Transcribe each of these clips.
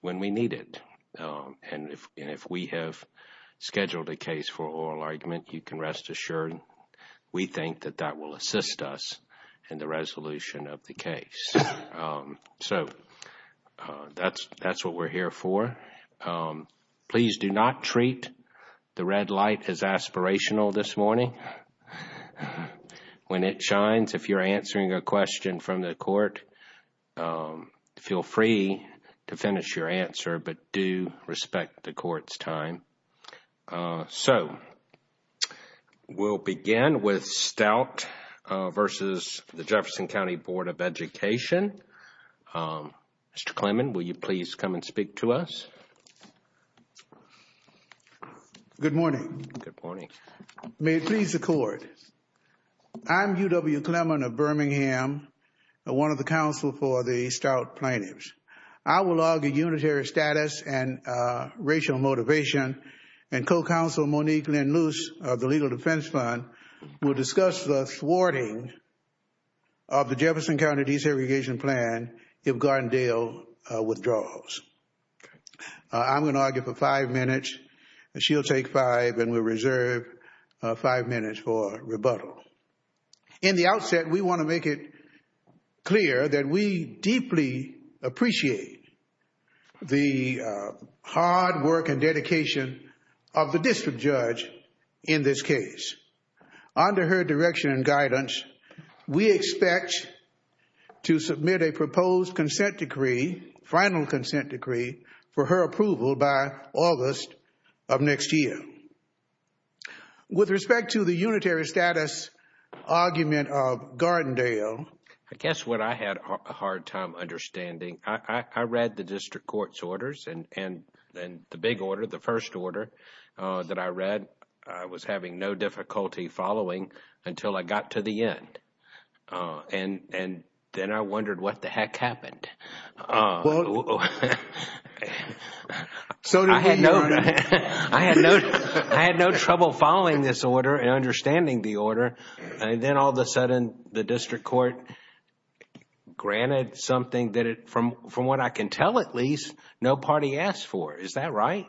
when we need it. And if we have scheduled a case for oral argument, you can rest assured we think that that will assist us in the resolution of the case. So that's what we're here for. Please do not treat the red light as aspirational this morning. When it shines, if you're answering a question from the court, feel free to finish your answer, but do respect the court's time. So we'll begin with Stout versus the Jefferson County Board of Education. Mr. Clemon, will you please come and speak to us? Good morning. Good morning. May it please the court. I'm UW Clemon of Birmingham, one of the counsel for the Stout plaintiffs. I will argue unitary status and racial motivation and co-counsel Monique Lynn Luce of the Legal Defense Fund will discuss the thwarting of the Jefferson County desegregation plan if Gardendale withdraws. I'm going to argue for five minutes. She'll take five and we'll reserve five minutes for rebuttal. In the outset, we want to make it clear that we deeply appreciate the hard work and dedication of the district judge in this case. Under her direction and guidance, we expect to submit a proposed consent decree, final consent decree, for her approval by August of next year. With respect to the unitary status argument of Gardendale... I guess what I had a hard time understanding, I read the district court's orders and the big order, the first order that I read, I was having no difficulty following until I got to the end. Then I wondered what the heck happened. I had no trouble following this order and understanding the order. Then all of a sudden, the district court granted something that, from what I can at least, no party asked for. Is that right?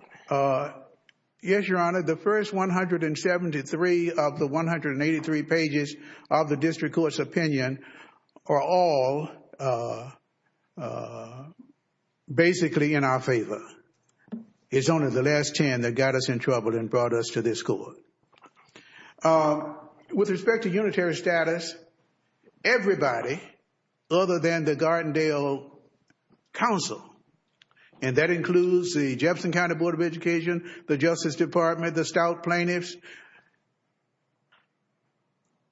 Yes, Your Honor. The first 173 of the 183 pages of the district court's opinion are all basically in our favor. It's only the last 10 that got us in trouble and brought us to this court. With respect to unitary status, everybody other than the Gardendale Council, and that includes the Jefferson County Board of Education, the Justice Department, the stout plaintiffs,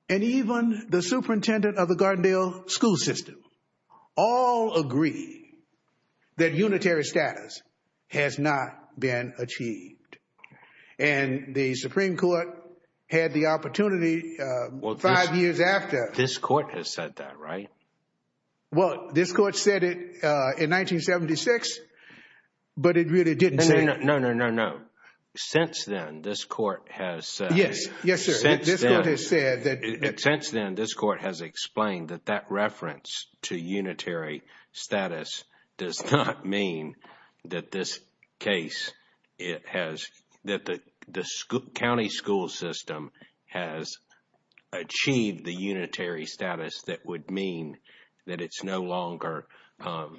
and even the superintendent of the Gardendale school system, all agree that unitary status has not been achieved. The Supreme Court had the opportunity five years after... This court has said that, right? Well, this court said it in 1976, but it really didn't say... No, no, no, no, no. Since then, this court has... Yes, yes, sir. This court has said that... Unitary status does not mean that this case, that the county school system has achieved the unitary status that would mean that it's no longer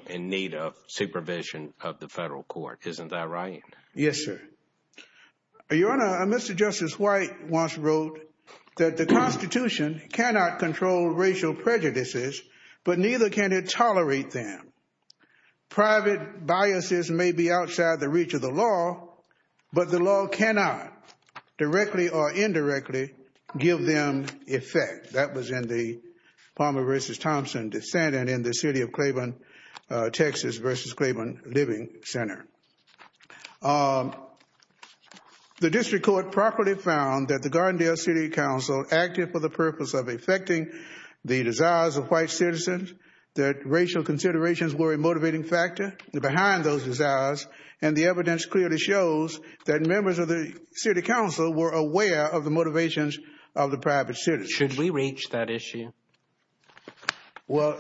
in need of supervision of the federal court. Isn't that right? Yes, sir. Your Honor, Mr. Justice White once wrote that, "...the Constitution cannot control racial prejudices, but neither can it tolerate them. Private biases may be outside the reach of the law, but the law cannot directly or indirectly give them effect." That was in the Palmer v. Thompson dissent and in the City of Claiborne, Texas v. Claiborne Living Center. The district court properly found that the Gardendale City Council acted for the purpose of effecting the desires of white citizens, that racial considerations were a motivating factor behind those desires, and the evidence clearly shows that members of the City Council were aware of the motivations of the private citizen. Should we reach that issue? Well...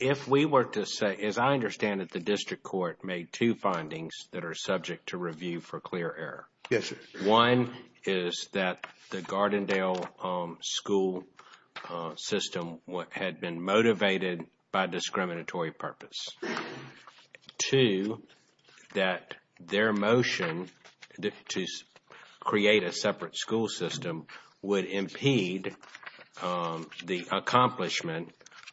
If we were to say, as I understand it, the district court made two findings that are subject to review for clear error. Yes, sir. One is that the Gardendale school system had been motivated by discriminatory purpose. Two, that their motion to create a separate school system would impede the accomplishment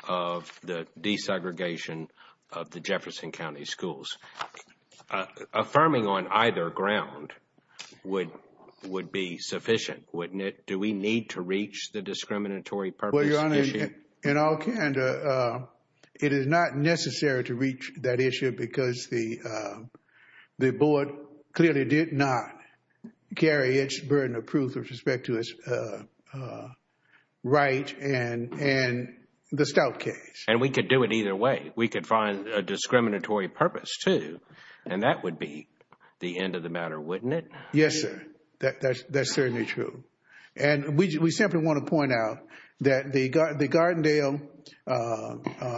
of the desegregation of the Jefferson County schools. Affirming on either ground would be sufficient, wouldn't it? Do we need to reach the discriminatory purpose issue? Well, Your Honor, in all candor, it is not necessary to reach that issue because the Wright and the Stout case. And we could do it either way. We could find a discriminatory purpose, too, and that would be the end of the matter, wouldn't it? Yes, sir. That's certainly true. And we simply want to point out that the Gardendale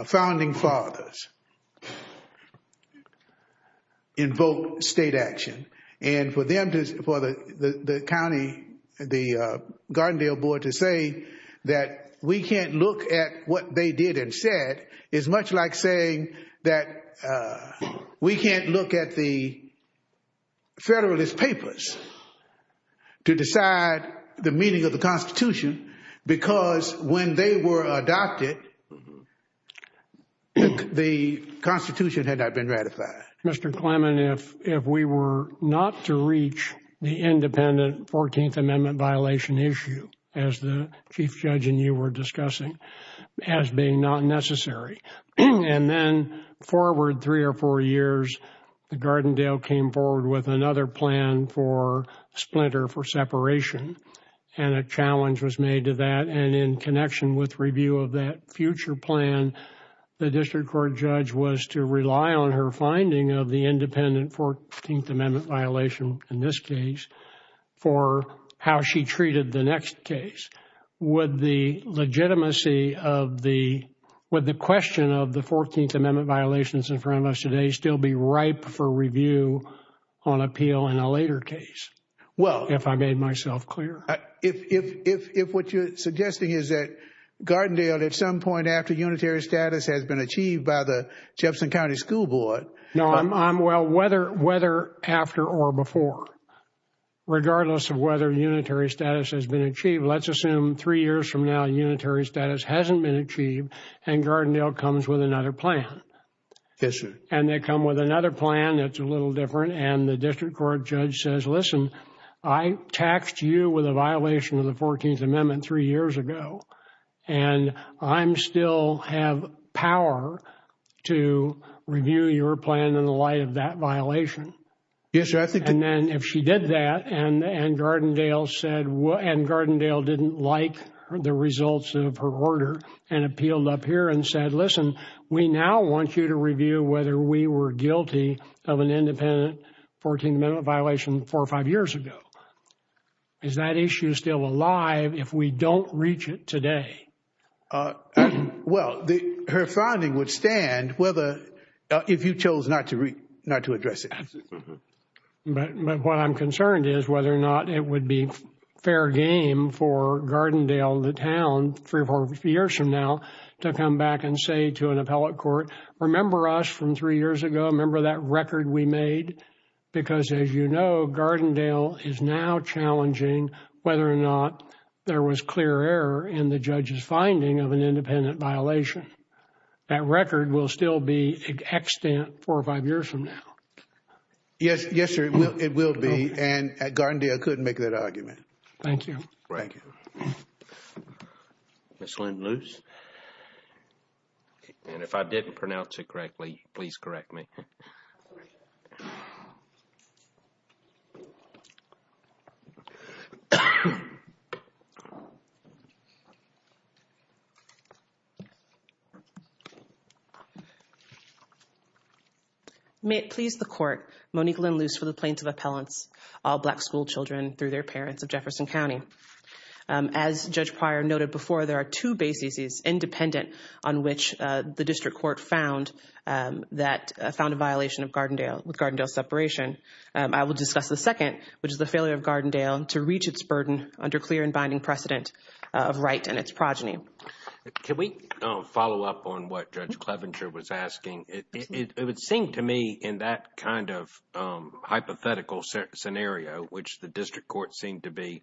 founding fathers did not invoke state action. And for the Gardendale board to say that we can't look at what they did and said is much like saying that we can't look at the Federalist Papers to decide the meaning of the Constitution. Because when they were adopted, the Constitution had not been ratified. Mr. Clement, if we were not to reach the independent 14th Amendment violation issue, as the Chief Judge and you were discussing, as being not necessary. And then forward three or four years, the Gardendale came forward with another plan for splinter, for separation. And a challenge was made to that. And in connection with review of that future plan, the district court judge was to rely on her finding of the independent 14th Amendment violation, in this case, for how she treated the next case. Would the legitimacy of the, would the question of the 14th Amendment violations in front of us today still be ripe for review on appeal in a later case? Well, if I made myself clear, if what you're suggesting is that Gardendale, at some point after unitary status has been achieved by the Jefferson County School Board. No, I'm well, whether after or before, regardless of whether unitary status has been achieved, let's assume three years from now, unitary status hasn't been achieved and Gardendale comes with another plan. Yes, sir. And they come with another plan that's a little different. And the district court judge says, listen, I taxed you with a violation of the 14th Amendment three years ago, and I'm still have power to review your plan in the light of that violation. Yes, sir. And then if she did that and Gardendale said, and Gardendale didn't like the results of her order and appealed up here and said, listen, we now want you to review whether we were guilty of an independent 14th Amendment violation four or five years ago. Is that issue still alive if we don't reach it today? Well, her finding would stand whether, if you chose not to address it. But what I'm concerned is whether or not it would be fair game for Gardendale, the town, three or four years from now to come back and say to an appellate court, remember us from three years ago, remember that record we made? Because as you know, Gardendale is now challenging whether or not there was clear error in the judge's finding of an independent violation. That record will still be extant four or five years from now. Yes, yes, sir. It will be. And Gardendale couldn't make that argument. Thank you. Thank you. Ms. Lynn Luce. And if I didn't pronounce it correctly, please correct me. May it please the court, Monique Lynn Luce for the plaintiff appellants, all black school children through their parents of Jefferson County. As Judge Pryor noted before, there are two bases independent on which the district court found that found a violation of Gardendale with Gardendale separation. I will discuss the second, which is the failure of Gardendale to reach its burden under clear and binding precedent of right and its progeny. Can we follow up on what Judge Clevenger was asking? It would seem to me in that kind of hypothetical scenario, which the district court seemed to be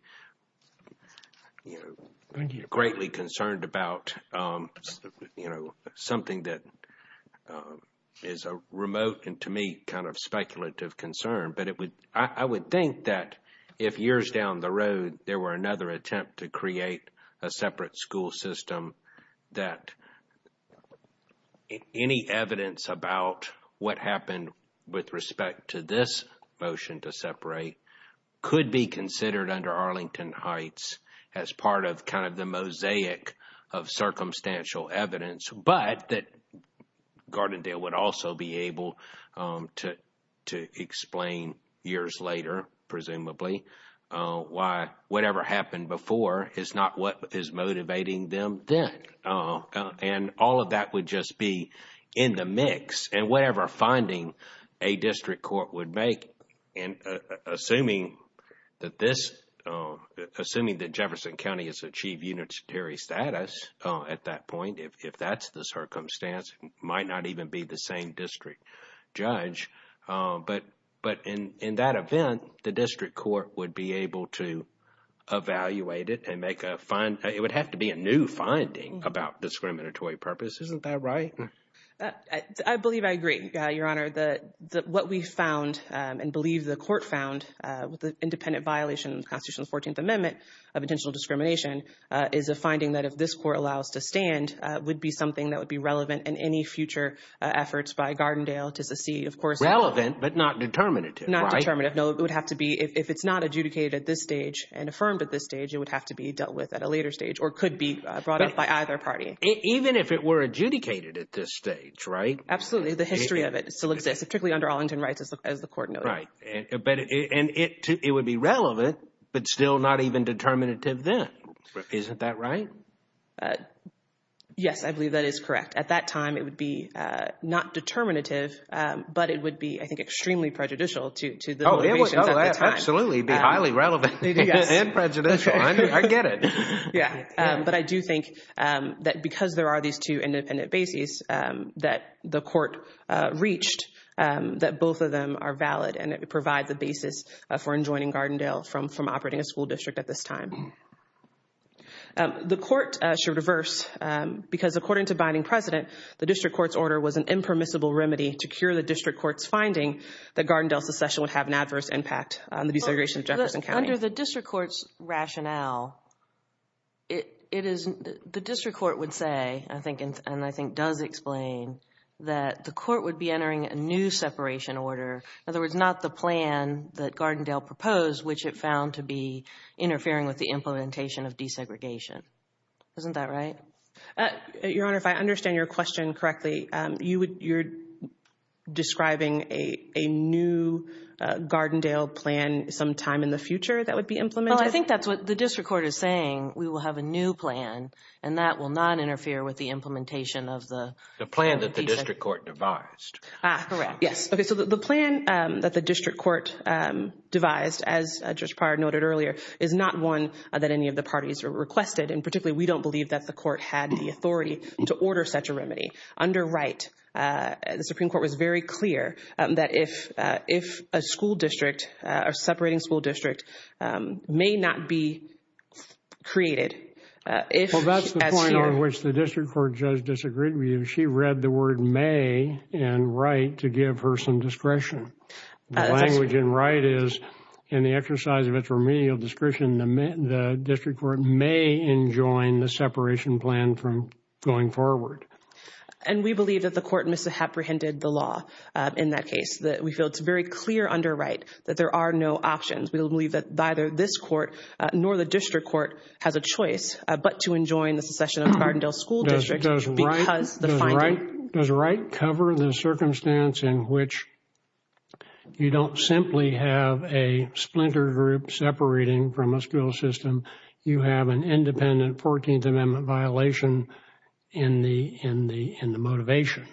greatly concerned about, you know, something that is a remote and to me kind of speculative concern. But I would think that if years down the road, there were another attempt to create a separate school system, that any evidence about what happened with respect to this motion to separate could be considered under Arlington Heights as part of kind of the mosaic of circumstantial evidence, but that Gardendale would also be able to explain years later, presumably, why whatever happened before is not what is motivating them then. And all of that would just be in the mix. And whatever finding a district court would make, and assuming that Jefferson County has achieved unitary status at that point, if that's the circumstance, might not even be the same district judge. But in that event, the district court would be able to evaluate it and make a find. It would have to be a new finding about discriminatory purpose. Isn't that right? I believe I agree, Your Honor, that what we found and believe the court found with the independent violation of Constitutional 14th Amendment of intentional discrimination is a finding that if this court allows to stand, would be something that would be relevant in any future efforts by Gardendale to see, of course, Relevant, but not determinative. Not determinative. No, it would have to be if it's not adjudicated at this stage and affirmed at this stage, it would have to be dealt with at a later stage or could be brought up by either party. Even if it were adjudicated at this stage, right? Absolutely. The history of it still exists, particularly under Arlington Rights, as the court noted. Right. And it would be relevant, but still not even determinative then. Isn't that right? Yes, I believe that is correct. At that time, it would be not determinative, but it would be, I think, extremely prejudicial to the motivations at the time. Absolutely, it would be highly relevant and prejudicial. I get it. Yeah, but I do think that because there are these two independent bases that the court reached that both of them are valid and it provides a basis for enjoining Gardendale from operating a school district at this time. The court should reverse because according to Binding President, the district court's order was an impermissible remedy to cure the district court's finding that Gardendale's succession would have an adverse impact on the desegregation of Jefferson County. Under the district court's rationale, the district court would say, and I think does explain, that the court would be entering a new separation order. In other words, not the plan that Gardendale proposed, which it found to be interfering with the implementation of desegregation. Isn't that right? Your Honor, if I understand your question correctly, you're describing a new Gardendale plan sometime in the future that would be implemented? Well, I think that's what the district court is saying. We will have a new plan and that will not interfere with the implementation of the... The plan that the district court devised. Ah, correct, yes. Okay, so the plan that the district court devised, as Judge Prior noted earlier, is not one that any of the parties requested, and particularly we don't believe that the court had the authority to order such a remedy. Under Wright, the Supreme Court was very clear that if a school district, a separating school district, may not be created, if... Well, that's the point on which the district court judge disagreed with you. She read the word may in Wright to give her some discretion. The language in Wright is, in the exercise of its remedial discretion, the district court may enjoin the separation plan from going forward. And we believe that the court misapprehended the law in that case, that we feel it's very clear under Wright that there are no options. We believe that neither this court nor the district court has a choice but to enjoin the secession of Gardendale School District because the finding... Does Wright cover the circumstance in which you don't simply have a splinter group separating from a school system, you have an independent 14th Amendment violation in the motivation?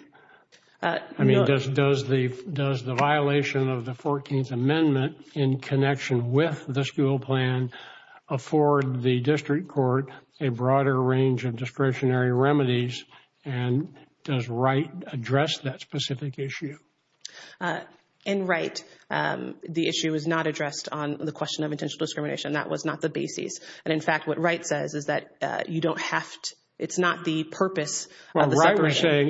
I mean, does the violation of the 14th Amendment in connection with the school plan afford the district court a broader range of discretionary remedies? And does Wright address that specific issue? In Wright, the issue is not addressed on the question of intentional discrimination. That was not the basis. And in fact, what Wright says is that you don't have to... It's not the purpose of the separation. Well, Wright was saying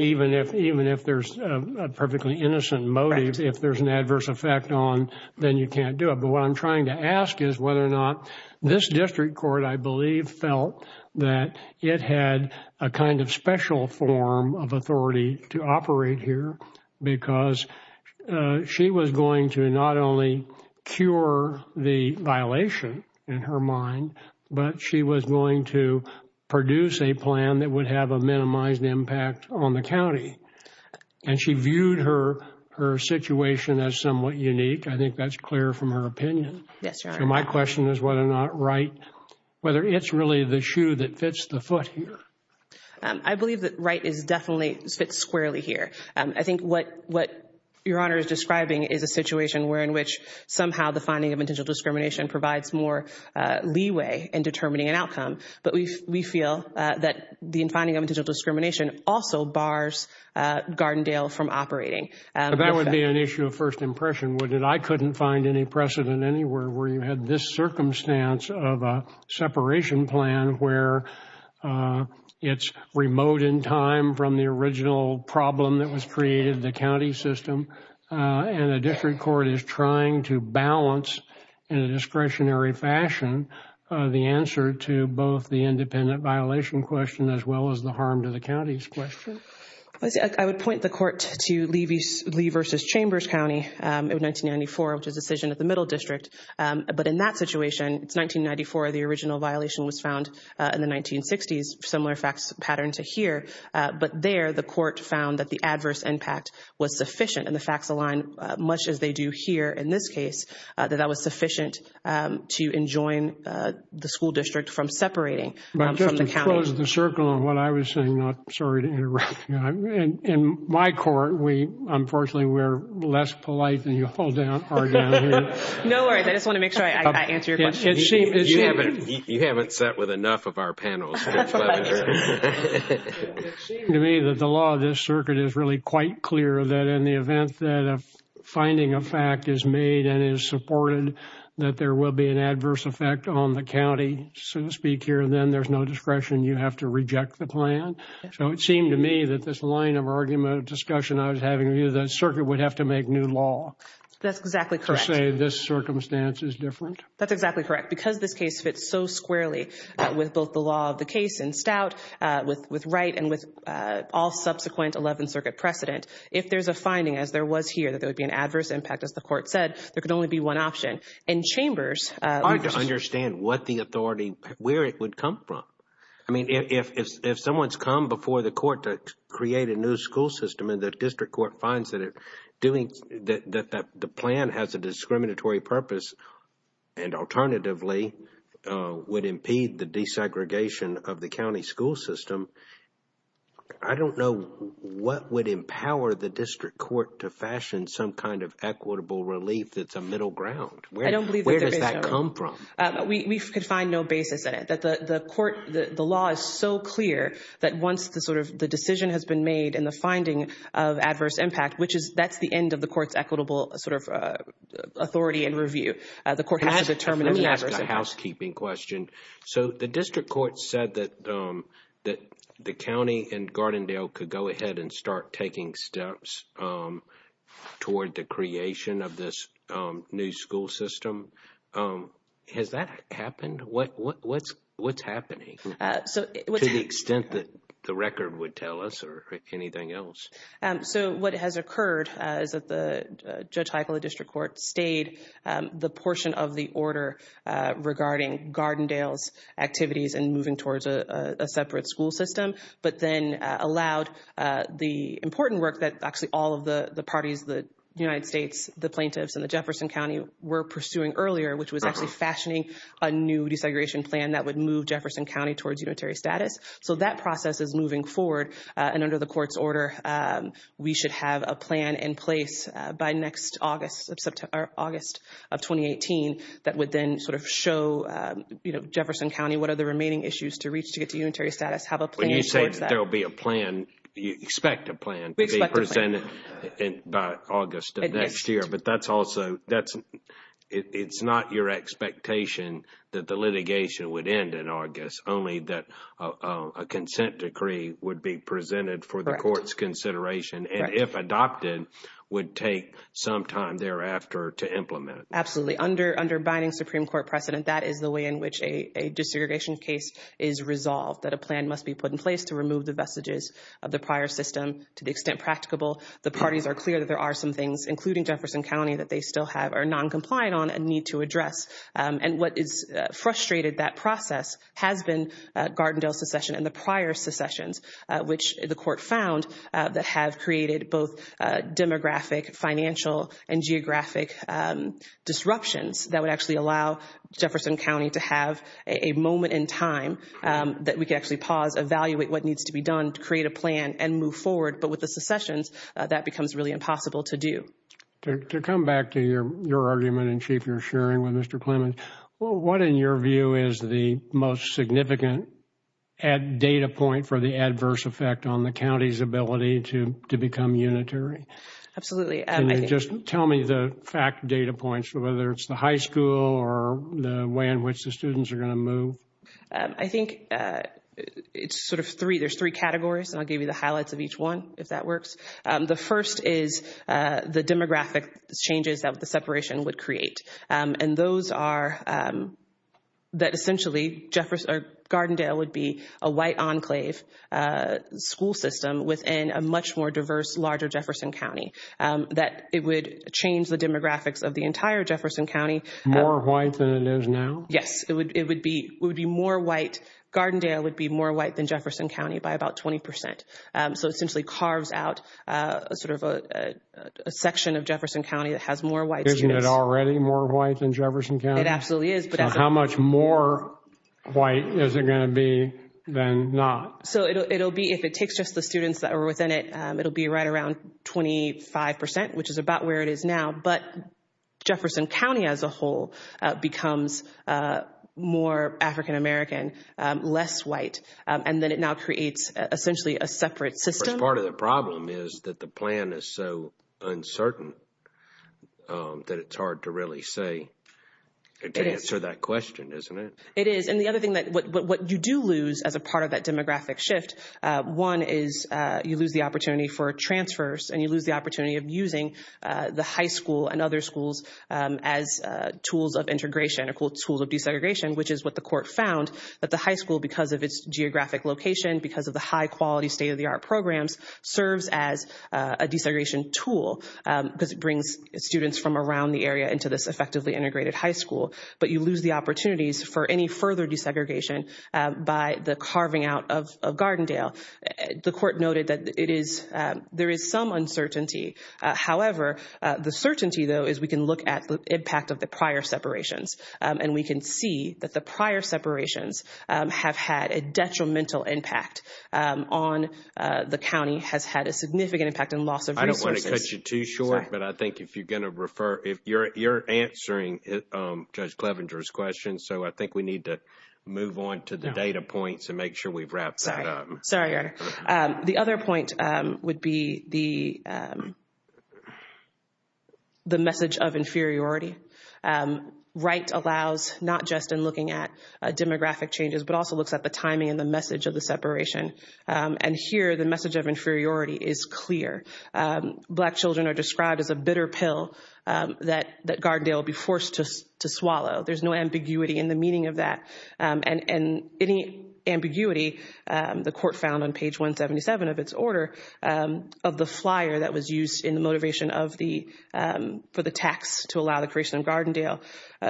even if there's a perfectly innocent motive, if there's an adverse effect on, then you can't do it. But what I'm trying to ask is whether or not this district court, I believe, felt that it had a kind of special form of authority to operate here because she was going to not only cure the violation in her mind, but she was going to produce a plan that would have a minimized impact on the county. And she viewed her situation as somewhat unique. I think that's clear from her opinion. Yes, Your Honor. So my question is whether or not Wright... Whether it's really the shoe that fits the foot here. I believe that Wright definitely fits squarely here. I think what Your Honor is describing is a situation where in which somehow the finding of intentional discrimination provides more leeway in determining an outcome. But we feel that the finding of intentional discrimination also bars Gardendale from operating. That would be an issue of first impression, wouldn't it? I couldn't find any precedent anywhere where you had this circumstance of a separation plan where it's remote in time from the original problem that was created in the county system. And a district court is trying to balance in a discretionary fashion the answer to both the independent violation question as well as the harm to the county's question. I would point the court to Lee v. Chambers County in 1994, which is a decision of the Middle District. But in that situation, it's 1994, the original violation was found in the 1960s, similar facts pattern to here. But there, the court found that the adverse impact was sufficient. And the facts align much as they do here in this case, that that was sufficient to enjoin the school district from separating from the county. I just closed the circle on what I was saying. I'm sorry to interrupt. In my court, unfortunately, we're less polite than you are down here. No worries. I just want to make sure I answer your question. You haven't sat with enough of our panels. To me that the law of this circuit is really quite clear that in the event that a finding of fact is made and is supported, that there will be an adverse effect on the county, so to speak, here and then there's no discretion. You have to reject the plan. So it seemed to me that this line of argument, discussion I was having with you, that circuit would have to make new law. That's exactly correct. To say this circumstance is different. That's exactly correct. Because this case fits so squarely with both the law of the case in Stout, with Wright, and with all subsequent 11th Circuit precedent. If there's a finding, as there was here, that there would be an adverse impact, as the court said, there could only be one option. In chambers, It's hard to understand what the authority, where it would come from. I mean, if someone's come before the court to create a new school system and the district court finds that the plan has a discriminatory purpose and alternatively would impede the desegregation of the county school system, I don't know what would empower the district court to fashion some kind of equitable relief that's a middle ground. I don't believe that. Where does that come from? We could find no basis in it. The law is so clear that once the decision has been made and the finding of adverse impact, that's the end of the court's equitable sort of authority and review. The court has to determine. Let me ask a housekeeping question. So the district court said that the county and Gardendale could go ahead and start taking steps toward the creation of this new school system. Has that happened? What's happening? To the extent that the record would tell us or anything else. So what has occurred is that the judge high court, the district court, stayed the portion of the order regarding Gardendale's activities and moving towards a separate school system, but then allowed the important work that actually all of the parties, the United States, the plaintiffs and the Jefferson County were pursuing earlier, which was actually fashioning a new desegregation plan that would move Jefferson County towards unitary status. So that process is moving forward. And under the court's order, we should have a plan in place by next August of 2018 that would then sort of show, you know, Jefferson County, what are the remaining issues to reach to get to unitary status. Have a plan. When you say there'll be a plan, you expect a plan to be presented by August of next year. But that's also, it's not your expectation that the litigation would end in August, only that a consent decree would be presented for the court's consideration. And if adopted, would take some time thereafter to implement. Absolutely. Underbinding Supreme Court precedent, that is the way in which a desegregation case is resolved, that a plan must be put in place to remove the vestiges of the prior system. To the extent practicable, the parties are clear that there are some things, including Jefferson County, that they still have, are non-compliant on and need to address. And what is frustrated, that process, has been Gardendale secession and the prior secessions, which the court found that have created both demographic, financial, and geographic disruptions that would actually allow Jefferson County to have a moment in time that we could actually pause, evaluate what needs to be done, create a plan, and move forward. But with the secessions, that becomes really impossible to do. To come back to your argument in chief, you're sharing with Mr. Clement, well, what in your view is the most significant data point for the adverse effect on the county's ability to become unitary? Absolutely. Can you just tell me the fact data points, whether it's the high school or the way in which the students are going to move? I think it's sort of three, there's three categories, and I'll give you the highlights of each one, if that works. The first is the demographic changes that the separation would create. And those are, that essentially, Gardendale would be a white enclave school system within a much more diverse, larger Jefferson County. That it would change the demographics of the entire Jefferson County. More white than it is now? Yes, it would be more white. Gardendale would be more white than Jefferson County by about 20%. So it essentially carves out a sort of a section of Jefferson County that has more white students. Isn't it already more white than Jefferson County? It absolutely is. But how much more white is it going to be than not? So it'll be, if it takes just the students that are within it, it'll be right around 25%, which is about where it is now. But Jefferson County as a whole becomes more African American, less white. And then it now creates, essentially, a separate system. Of course, part of the problem is that the plan is so uncertain that it's hard to really say, to answer that question, isn't it? It is. And the other thing that, what you do lose as a part of that demographic shift, one is you lose the opportunity for transfers, and you lose the opportunity of using the high school and other schools as tools of integration, or tools of desegregation, which is what the court found, that the high school, because of its geographic location, because of the high quality state-of-the-art programs, serves as a desegregation tool, because it brings students from around the area into this effectively integrated high school. But you lose the opportunities for any further desegregation by the carving out of Gardendale. The court noted that there is some uncertainty. However, the certainty, though, is we can look at the impact of the prior separations, and we can see that the prior separations have had a detrimental impact on the county, has had a significant impact in loss of resources. I don't want to cut you too short, but I think if you're going to refer, if you're answering Judge Clevenger's questions, so I think we need to move on to the data points and make sure we've wrapped that up. Sorry, Your Honor. The other point would be the message of inferiority. Right allows not just in looking at demographic changes, but also looks at the timing and the message of the separation. And here, the message of inferiority is clear. Black children are described as a bitter pill that Gardendale will be forced to swallow. There's no ambiguity in the meaning of that. And any ambiguity, the court found on page 177 of its order, of the flyer that was used in the motivation of the, for the tax to allow the creation of Gardendale,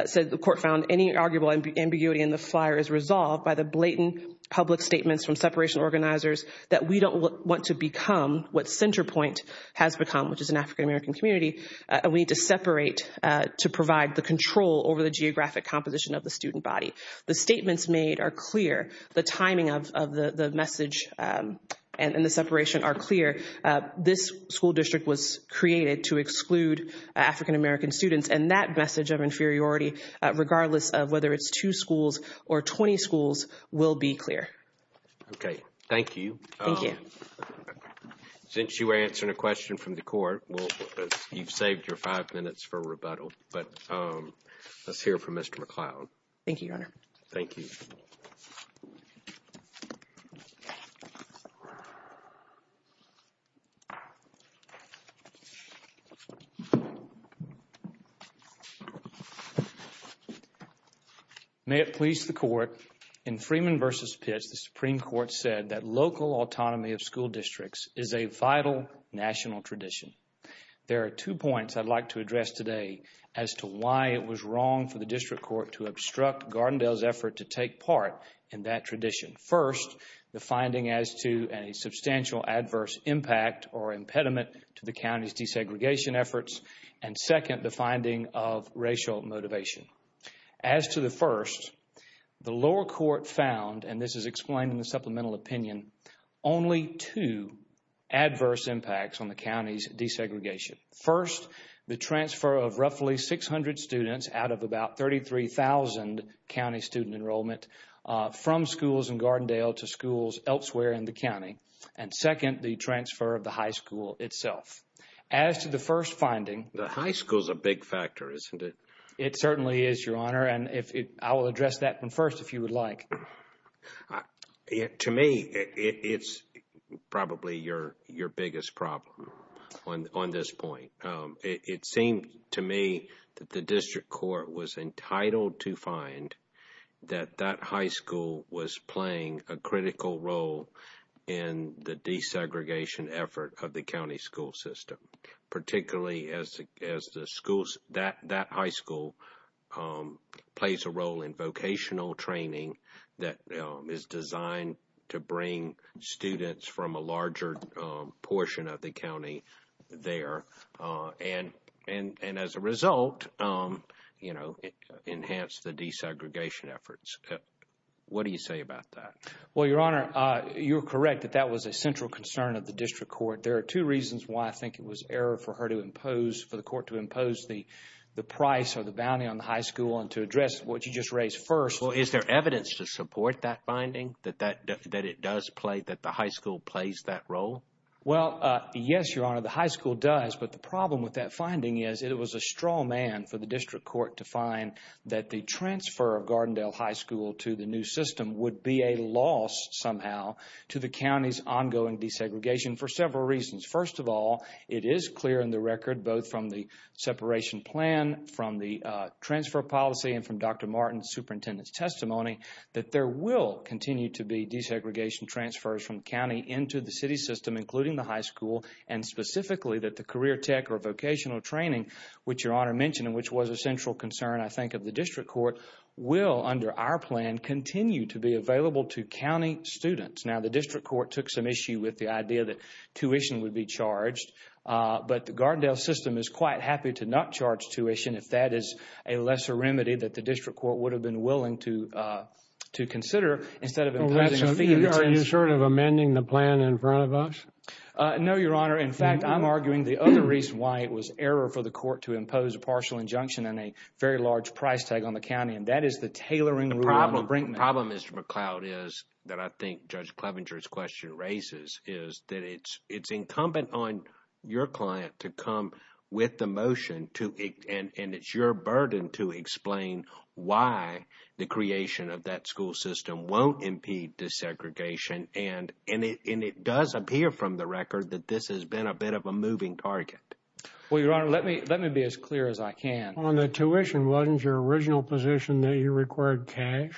said the court found any arguable ambiguity in the flyer is resolved by the blatant public statements from separation organizers that we don't want to become what Centerpoint has become, which is an African-American community, and we need to separate to provide the control over the geographic composition of the student body. The statements made are clear. The timing of the message and the separation are clear. This school district was created to exclude African-American students. And that message of inferiority, regardless of whether it's two schools or 20 schools, will be clear. Okay, thank you. Since you were answering a question from the court, well, you've saved your five minutes for rebuttal. But let's hear from Mr. McCloud. Thank you, Your Honor. Thank you. May it please the court, in Freeman v. Pitts, the Supreme Court said that local autonomy of school districts is a vital national tradition. There are two points I'd like to address today as to why it was wrong for the district court to obstruct Gardendale's effort to take part in that tradition. First, the finding as to a substantial adverse impact or impediment to the county's desegregation efforts. And second, the finding of racial motivation. As to the first, the lower court found, and this is explained in the supplemental opinion, only two adverse impacts on the county's desegregation. First, the transfer of roughly 600 students out of about 33,000 county student enrollment from schools in Gardendale to schools elsewhere in the county. And second, the transfer of the high school itself. As to the first finding... The high school is a big factor, isn't it? It certainly is, Your Honor. And I will address that one first, if you would like. To me, it's probably your biggest problem on this point. It seemed to me that the district court was entitled to find that that high school was playing a critical role in the desegregation effort of the county school system. Particularly as that high school plays a role in vocational training that is designed to bring students from a larger portion of the county there. And as a result, it enhanced the desegregation efforts. What do you say about that? Well, Your Honor, you're correct that that was a central concern of the district court. There are two reasons why I think it was error for her to impose, for the court to impose the price or the bounty on the high school and to address what you just raised first. Well, is there evidence to support that finding? That it does play, that the high school plays that role? Well, yes, Your Honor, the high school does. But the problem with that finding is it was a straw man for the district court to find that the transfer of Gardendale High School to the new system would be a loss somehow to the county's ongoing desegregation for several reasons. First of all, it is clear in the record, both from the separation plan, from the transfer policy, and from Dr. Martin's superintendent's testimony, that there will continue to be desegregation transfers from county into the city system, including the high school. And specifically, that the career tech or vocational training, which Your Honor mentioned, and which was a central concern, I think, of the district court, will, under our plan, continue to be available to county students. Now, the district court took some issue with the idea that tuition would be charged, but the Gardendale system is quite happy to not charge tuition if that is a lesser remedy that the district court would have been willing to consider instead of imposing a fee. Are you sort of amending the plan in front of us? No, Your Honor. In fact, I'm arguing the other reason why it was error for the court to impose a partial injunction on a very large price tag on the county, and that is the tailoring rule on the Brinkman. The problem, Mr. McCloud, is that I think Judge Clevenger's question raises is that it's incumbent on your client to come with the motion, and it's your burden to explain why the creation of that school system won't impede desegregation. And it does appear from the record that this has been a bit of a moving target. Well, Your Honor, let me be as clear as I can. On the tuition, wasn't your original position that you required cash?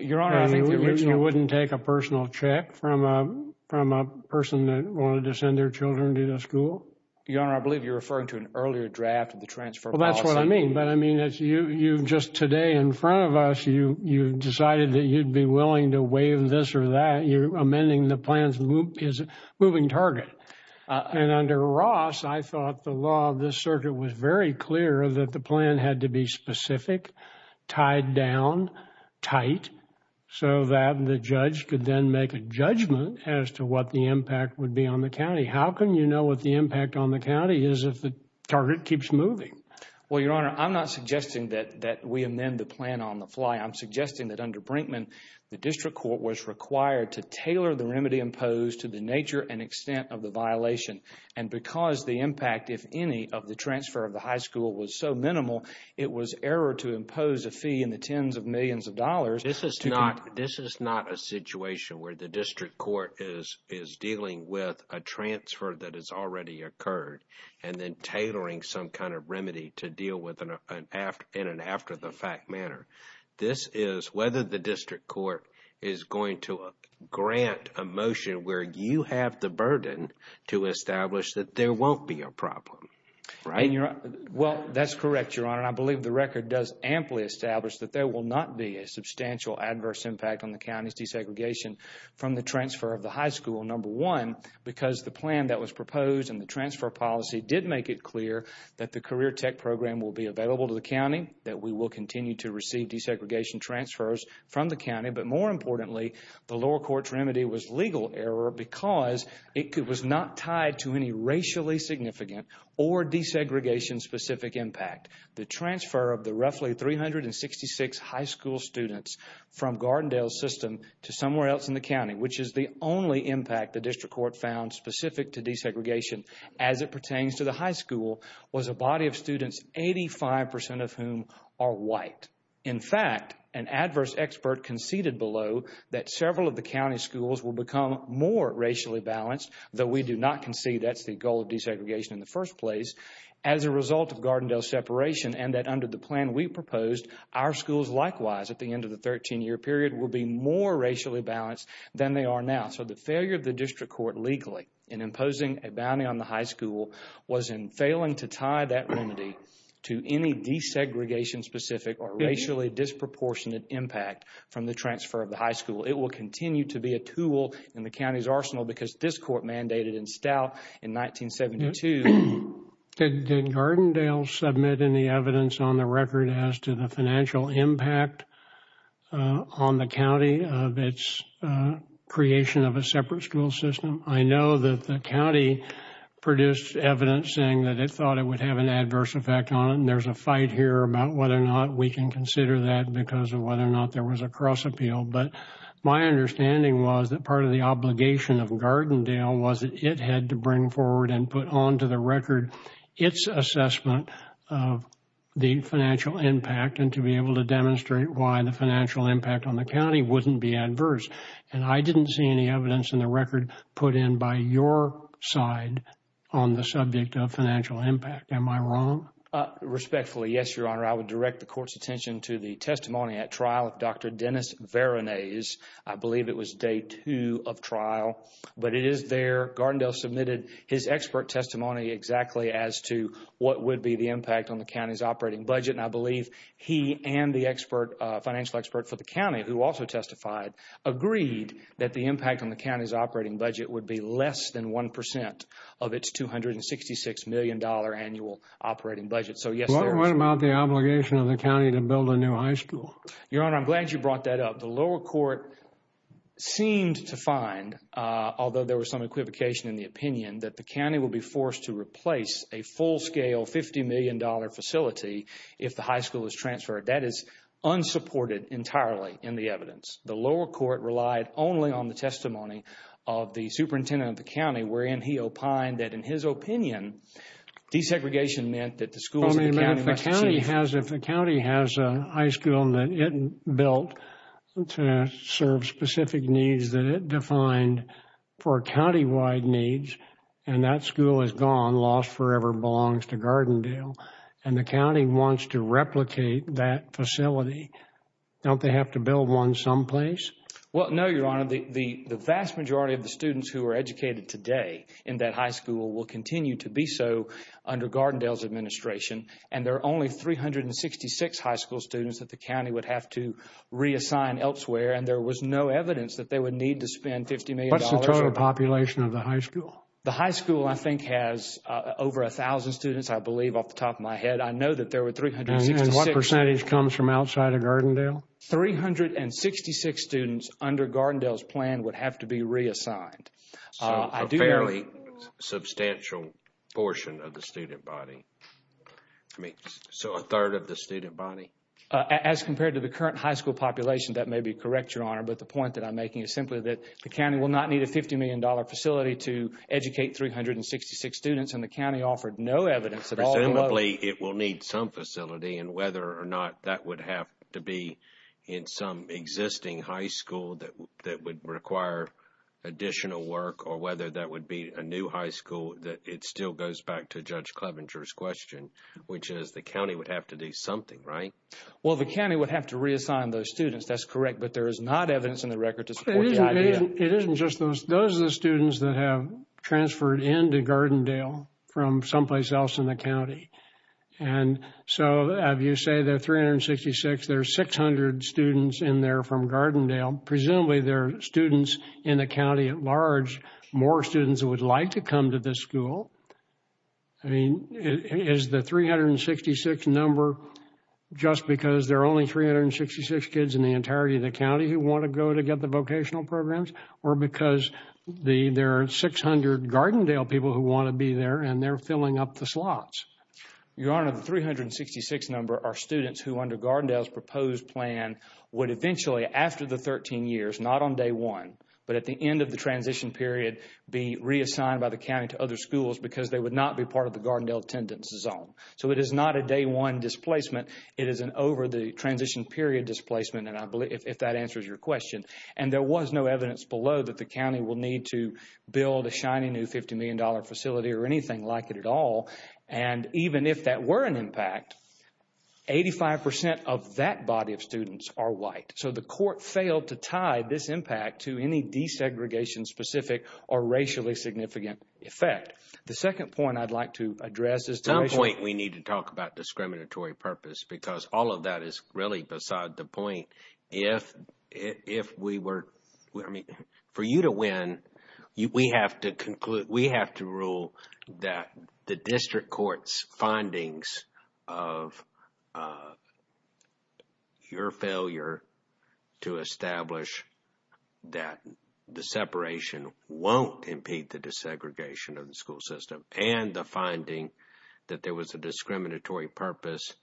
Your Honor, I mean, you wouldn't take a personal check from a person that wanted to send their children to the school? Your Honor, I believe you're referring to an earlier draft of the transfer policy. Well, that's what I mean, but I mean, just today in front of us, you decided that you'd be willing to waive this or that. You're amending the plan's moving target. And under Ross, I thought the law of this circuit was very clear that the plan had to be specific, tied down, tight, so that the judge could then make a judgment as to what the impact would be on the county. How can you know what the impact on the county is if the target keeps moving? Well, Your Honor, I'm not suggesting that we amend the plan on the fly. I'm suggesting that under Brinkman, the district court was required to tailor the remedy imposed to the nature and extent of the violation. And because the impact, if any, of the transfer of the high school was so minimal, it was error to impose a fee in the tens of millions of dollars. This is not a situation where the district court is dealing with a transfer that has already occurred and then tailoring some kind of remedy to deal with in an after the fact manner. This is whether the district court is going to grant a motion where you have the burden to establish that there won't be a problem, right? Well, that's correct, Your Honor. I believe the record does amply establish that there will not be a substantial adverse impact on the county's desegregation from the transfer of the high school, number one, because the plan that was proposed and the transfer policy did make it clear that the CareerTech program will be available to the county, that we will continue to receive desegregation transfers from the county. But more importantly, the lower court's remedy was legal error because it was not tied to any racially significant or desegregation specific impact. The transfer of the roughly 366 high school students from Gardendale system to somewhere else in the county, which is the only impact the district court found specific to desegregation as it pertains to the high school, was a body of students, 85% of whom are white. In fact, an adverse expert conceded below that several of the county schools will become more racially balanced, though we do not concede that's the goal of desegregation in the first place, as a result of Gardendale separation and that under the plan we proposed, our schools likewise at the end of the 13-year period will be more racially balanced than they are now. So the failure of the district court legally in imposing a bounty on the high school was in failing to tie that remedy to any desegregation specific or racially disproportionate impact from the transfer of the high school. It will continue to be a tool in the county's arsenal because this court mandated in stout in 1972. Did Gardendale submit any evidence on the record as to the financial impact on the county of its creation of a separate school system? I know that the county produced evidence saying that it thought it would have an adverse effect on it and there's a fight here about whether or not we can consider that because of whether or not there was a cross appeal, but my understanding was that part of the obligation of Gardendale was that it had to bring forward and put onto the record its assessment of the financial impact and to be able to demonstrate why the financial impact on the county wouldn't be adverse. And I didn't see any evidence in the record put in by your side on the subject of financial impact. Am I wrong? Respectfully, yes, your honor. I would direct the court's attention to the testimony at trial of Dr. Dennis Veronese. I believe it was day two of trial, but it is there. Gardendale submitted his expert testimony exactly as to what would be the impact on the county's operating budget. And I believe he and the expert, financial expert for the county, who also testified, agreed that the impact on the county's operating budget would be less than 1% of its $266 million annual operating budget. So, yes. What about the obligation of the county to build a new high school? Your honor, I'm glad you brought that up. The lower court seemed to find, although there was some equivocation in the opinion, that the county will be forced if the high school is transferred. That is unsupported entirely in the evidence. The lower court relied only on the testimony of the superintendent of the county, wherein he opined that in his opinion, desegregation meant that the schools in the county must be safe. If the county has a high school that it built to serve specific needs that it defined for county-wide needs, and that school is gone, lost forever, belongs to Gardendale, and the county wants to replicate that facility, don't they have to build one someplace? Well, no, your honor. The vast majority of the students who are educated today in that high school will continue to be so under Gardendale's administration, and there are only 366 high school students that the county would have to reassign elsewhere, and there was no evidence that they would need to spend $50 million. What's the total population of the high school? The high school, I think, has over 1,000 students, I believe, off the top of my head. I know that there were 366. And what percentage comes from outside of Gardendale? 366 students under Gardendale's plan would have to be reassigned. So, a fairly substantial portion of the student body. I mean, so a third of the student body? As compared to the current high school population, that may be correct, your honor, but the point that I'm making is simply that the county will not need a $50 million facility to educate 366 students, and the county offered no evidence at all. It will need some facility, and whether or not that would have to be in some existing high school that would require additional work, or whether that would be a new high school, it still goes back to Judge Clevenger's question, which is the county would have to do something, right? Well, the county would have to reassign those students, that's correct, but there is not evidence in the record to support the idea. It isn't just those. Those are the students that have transferred into Gardendale from someplace else in the county, and so if you say that 366, there's 600 students in there from Gardendale. Presumably, there are students in the county at large, more students would like to come to this school. I mean, is the 366 number just because there are only 366 kids in the entirety of the county who want to go to get the vocational programs, or because there are 600 Gardendale people who want to be there, and they're filling up the slots? Your Honor, the 366 number are students who under Gardendale's proposed plan would eventually, after the 13 years, not on day one, but at the end of the transition period, be reassigned by the county to other schools because they would not be part of the Gardendale attendance zone. So it is not a day one displacement. It is an over the transition period displacement, and I believe if that answers your question, and there was no evidence below that the county will need to build a shiny new $50 million facility or anything like it at all, and even if that were an impact, 85% of that body of students are white. So the court failed to tie this impact to any desegregation specific or racially significant effect. The second point I'd like to address is- At some point, we need to talk about discriminatory purpose because all of that is really beside the point. If we were, I mean, for you to win, we have to rule that the district court's findings of your failure to establish that the separation won't impede the desegregation of the school system and the finding that there was a discriminatory purpose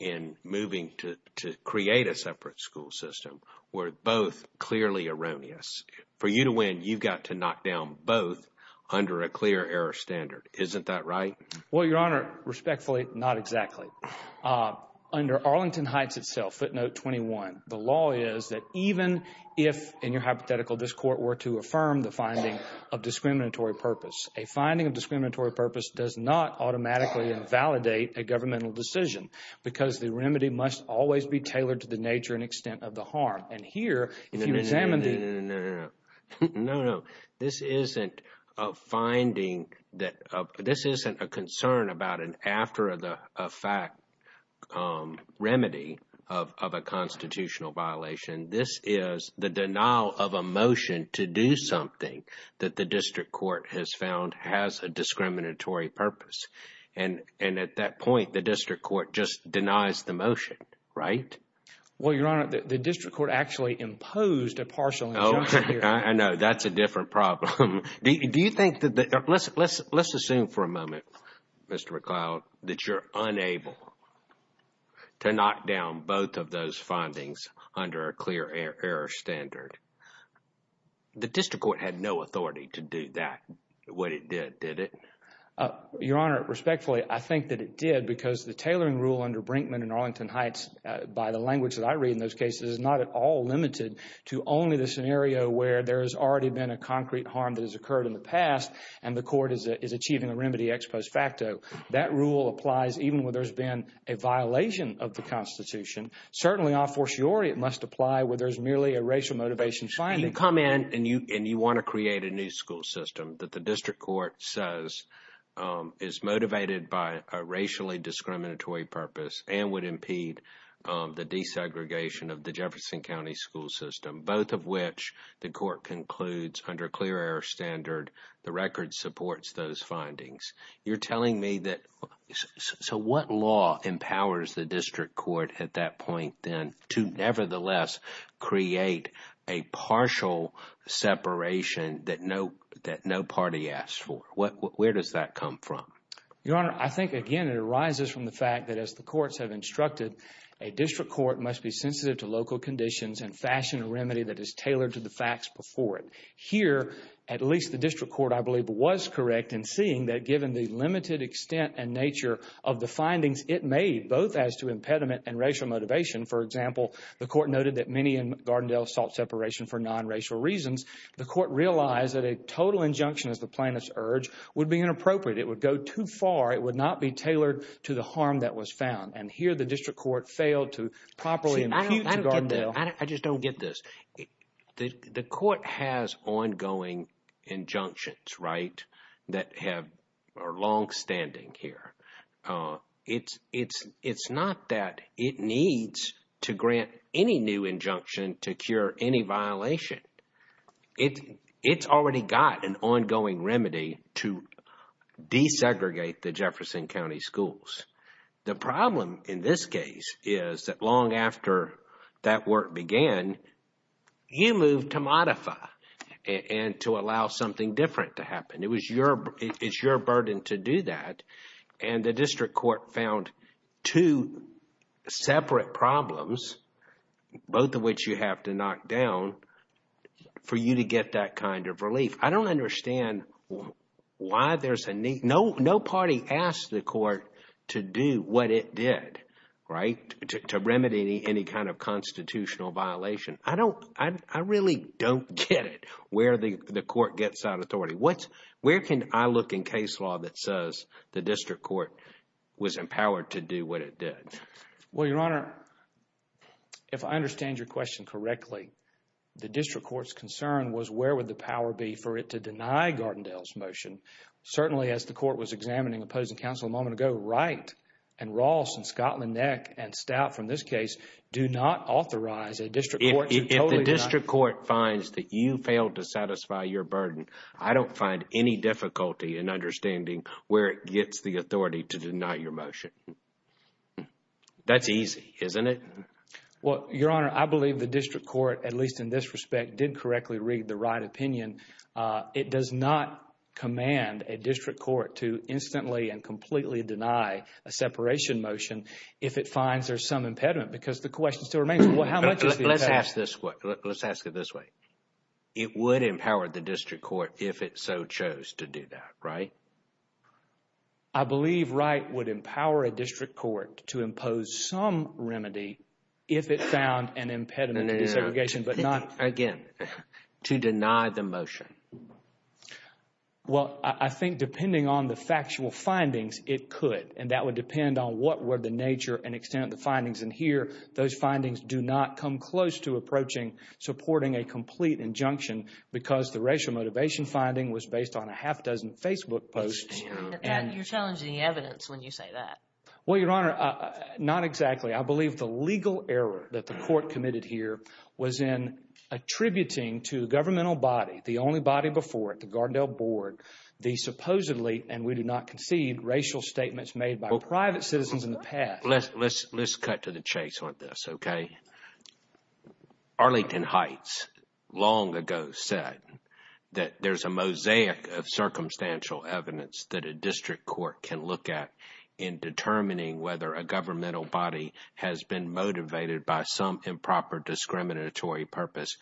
in moving to create a separate school system were both clearly erroneous. For you to win, you've got to knock down both under a clear error standard. Isn't that right? Well, Your Honor, respectfully, not exactly. Under Arlington Heights itself, footnote 21, the law is that even if, in your hypothetical, this court were to affirm the finding of discriminatory purpose, a finding of discriminatory purpose does not automatically invalidate a governmental decision because the remedy must always be tailored to the nature and extent of the harm. And here, if you examine the- No, no, no, no, no, no. This isn't a finding that- This isn't a concern about an after-the-fact remedy of a constitutional violation. This is the denial of a motion to do something that the district court has found has a discriminatory purpose. And at that point, the district court just denies the motion, right? Well, Your Honor, the district court actually imposed a partial injunction here. I know. That's a different problem. Do you think that- Let's assume for a moment, Mr. McCloud, that you're unable to knock down both of those findings under a clear error standard. The district court had no authority to do that, what it did, did it? Your Honor, respectfully, I think that it did because the tailoring rule under Brinkman and Arlington Heights by the language that I read in those cases is not at all limited to only the scenario where there has already been a concrete harm that has occurred in the past and the court is achieving a remedy ex post facto. That rule applies even where there's been a violation of the Constitution. Certainly, a fortiori, it must apply where there's merely a racial motivation finding. You come in and you want to create a new school system that the district court says is motivated by a racially discriminatory purpose and would impede the desegregation of the Jefferson County school system, both of which the court concludes under clear error standard, the record supports those findings. You're telling me that, so what law empowers the district court at that point then to nevertheless create a partial separation that no party asked for? Where does that come from? Your Honor, I think, again, it arises from the fact that as the courts have instructed, a district court must be sensitive to local conditions and fashion a remedy that is tailored to the facts before it. Here, at least the district court, I believe, was correct in seeing that given the limited extent and nature of the findings it made, both as to impediment and racial motivation, for example, the court noted that many in Gardendale sought separation for non-racial reasons. The court realized that a total injunction as the plaintiffs urged would be inappropriate. It would go too far. It would not be tailored to the harm that was found. And here the district court failed to properly impute to Gardendale. See, I don't get that. I just don't get this. The court has ongoing injunctions, right, that are longstanding here. It's not that it needs to grant any new injunction to cure any violation. It's already got an ongoing remedy to desegregate the Jefferson County schools. The problem in this case is that long after that work began, you move to modify and to allow something different to happen. It's your burden to do that. And the district court found two separate problems, both of which you have to knock down, for you to get that kind of relief. I don't understand why there's a need. No party asked the court to do what it did, right, to remedy any kind of constitutional violation. I don't, I really don't get it where the court gets that authority. What, where can I look in case law that says the district court was empowered to do what it did? Well, Your Honor, if I understand your question correctly, the district court's concern was where would the power be for it to deny Gardendale's motion? Certainly, as the court was examining opposing counsel a moment ago, Wright and Ross and Scotland-Neck and Stout from this case do not authorize a district court. If the district court finds that you failed to satisfy your burden, I don't find any difficulty in understanding where it gets the authority to deny your motion. That's easy, isn't it? Well, Your Honor, I believe the district court, at least in this respect, did correctly read the Wright opinion. It does not command a district court to instantly and completely deny a separation motion if it finds there's some impediment because the question still remains, well, how much is the impediment? Let's ask it this way. It would empower the district court if it so chose to do that, right? I believe Wright would empower a district court to impose some remedy if it found an impediment to desegregation, but not... Again, to deny the motion. Well, I think depending on the factual findings, it could, and that would depend on what were the nature and extent of the findings. And here, those findings do not come close to approaching supporting a complete injunction because the racial motivation finding was based on a half dozen Facebook posts. You're challenging the evidence when you say that. Well, Your Honor, not exactly. I believe the legal error that the court committed here was in attributing to the governmental body, the only body before it, the Gardendale board, the supposedly, and we do not concede, racial statements made by private citizens in the past. Let's cut to the chase on this, OK? Arlington Heights long ago said that there's a mosaic of circumstantial evidence that a district court can look at in determining whether a governmental body has been motivated by some improper discriminatory purpose,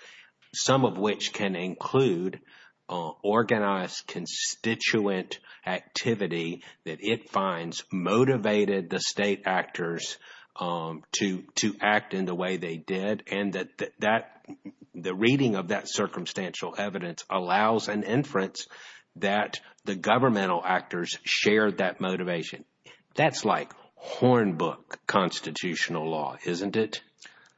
some of which can include organized constituent activity that it finds motivated the state actors to act in the way they did, and that the reading of that circumstantial evidence allows an inference that the governmental actors shared that motivation. That's like hornbook constitutional law, isn't it?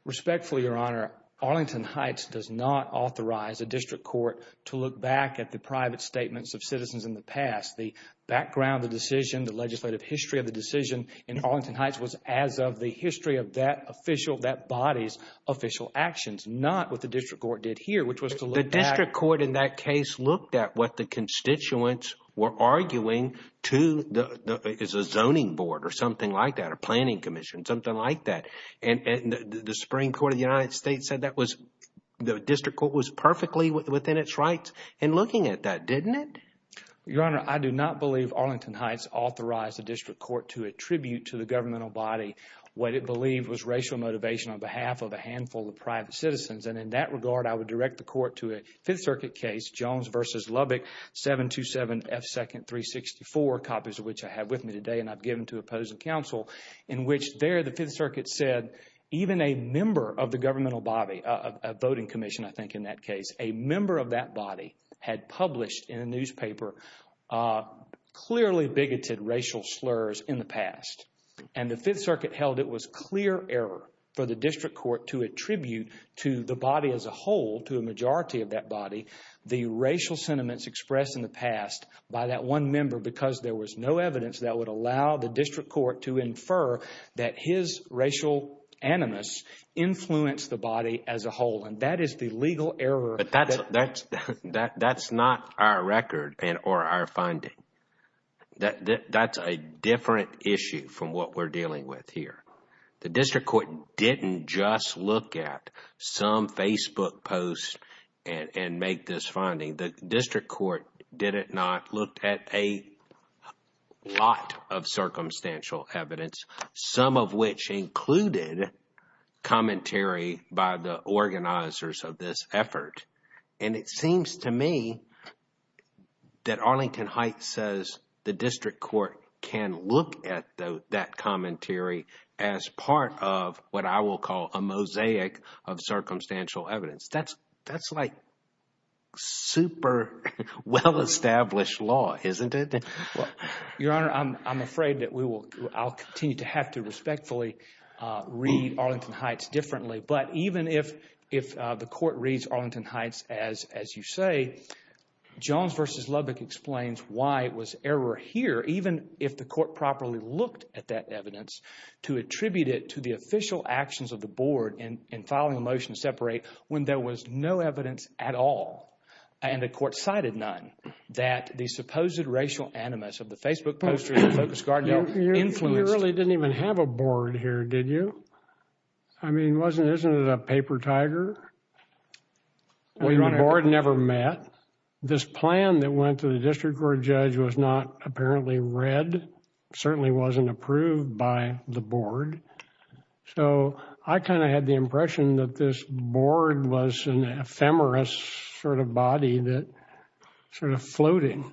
Respectfully, Your Honor, Arlington Heights does not authorize a district court to look back at the private statements of citizens in the past. The background, the decision, the legislative history of the decision in Arlington Heights was as of the history of that official, that body's official actions, not what the district court did here, which was to look back. The district court in that case looked at what the constituents were arguing to the zoning board or something like that, a planning commission, something like that. And the Supreme Court of the United States said that was, the district court was perfectly within its rights in looking at that, didn't it? Your Honor, I do not believe Arlington Heights authorized the district court to attribute to the governmental body what it believed was racial motivation on behalf of a handful of private citizens. And in that regard, I would direct the court to a Fifth Circuit case, Jones v. Lubbock, 727F2nd364, copies of which I have with me today and I've given to opposing counsel, in which there the Fifth Circuit said even a member of the governmental body, a voting commission, I think in that case, a member of that body had published in a newspaper clearly bigoted racial slurs in the past. And the Fifth Circuit held it was clear error for the district court to attribute to the body as a whole, to a majority of that body, the racial sentiments expressed in the past by that one member because there was no evidence that would allow the district court to infer that his racial animus influenced the body as a whole. And that is the legal error. That's not our record and or our finding. That's a different issue from what we're dealing with here. The district court didn't just look at some Facebook post and make this finding. The district court did it not looked at a lot of circumstantial evidence, some of which included commentary by the organizers of this effort. And it seems to me that Arlington Heights says the district court can look at that commentary as part of what I will call a mosaic of circumstantial evidence. That's like super well-established law, isn't it? Your Honor, I'm afraid that we will, I'll continue to have to respectfully read Arlington Heights differently. But even if the court reads Arlington Heights, as you say, Johns v. Lubbock explains why it was error here, even if the court properly looked at that evidence to attribute it to the official actions of the board in filing a motion to separate when there was no evidence at all. And the court cited none that the supposed racial animus of the Facebook poster of the Focus Gardner influenced. You really didn't even have a board here, did you? I mean, wasn't it a paper tiger? Well, your Honor, the board never met. This plan that went to the district court judge was not apparently read, certainly wasn't approved by the board. So I kind of had the impression that this board was an ephemeris sort of body that sort of floating.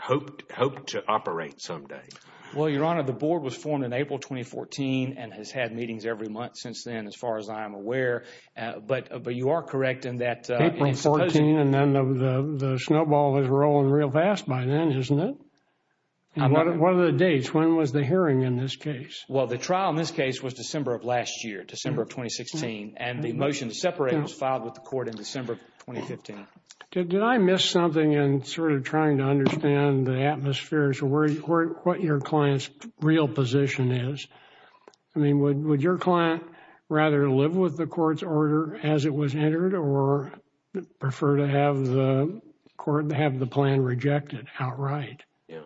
Hoped to operate someday. Well, Your Honor, the board was formed in April 2014 and has had meetings every month since then, as far as I am aware. But you are correct in that. April 14 and then the snowball was rolling real fast by then, isn't it? What are the dates? When was the hearing in this case? Well, the trial in this case was December of last year, December of 2016. And the motion to separate was filed with the court in December of 2015. Did I miss something in sort of trying to understand the atmosphere as to what your client's real position is? I mean, would your client rather live with the court's order as it was entered or prefer to have the court to have the plan rejected outright? Yeah.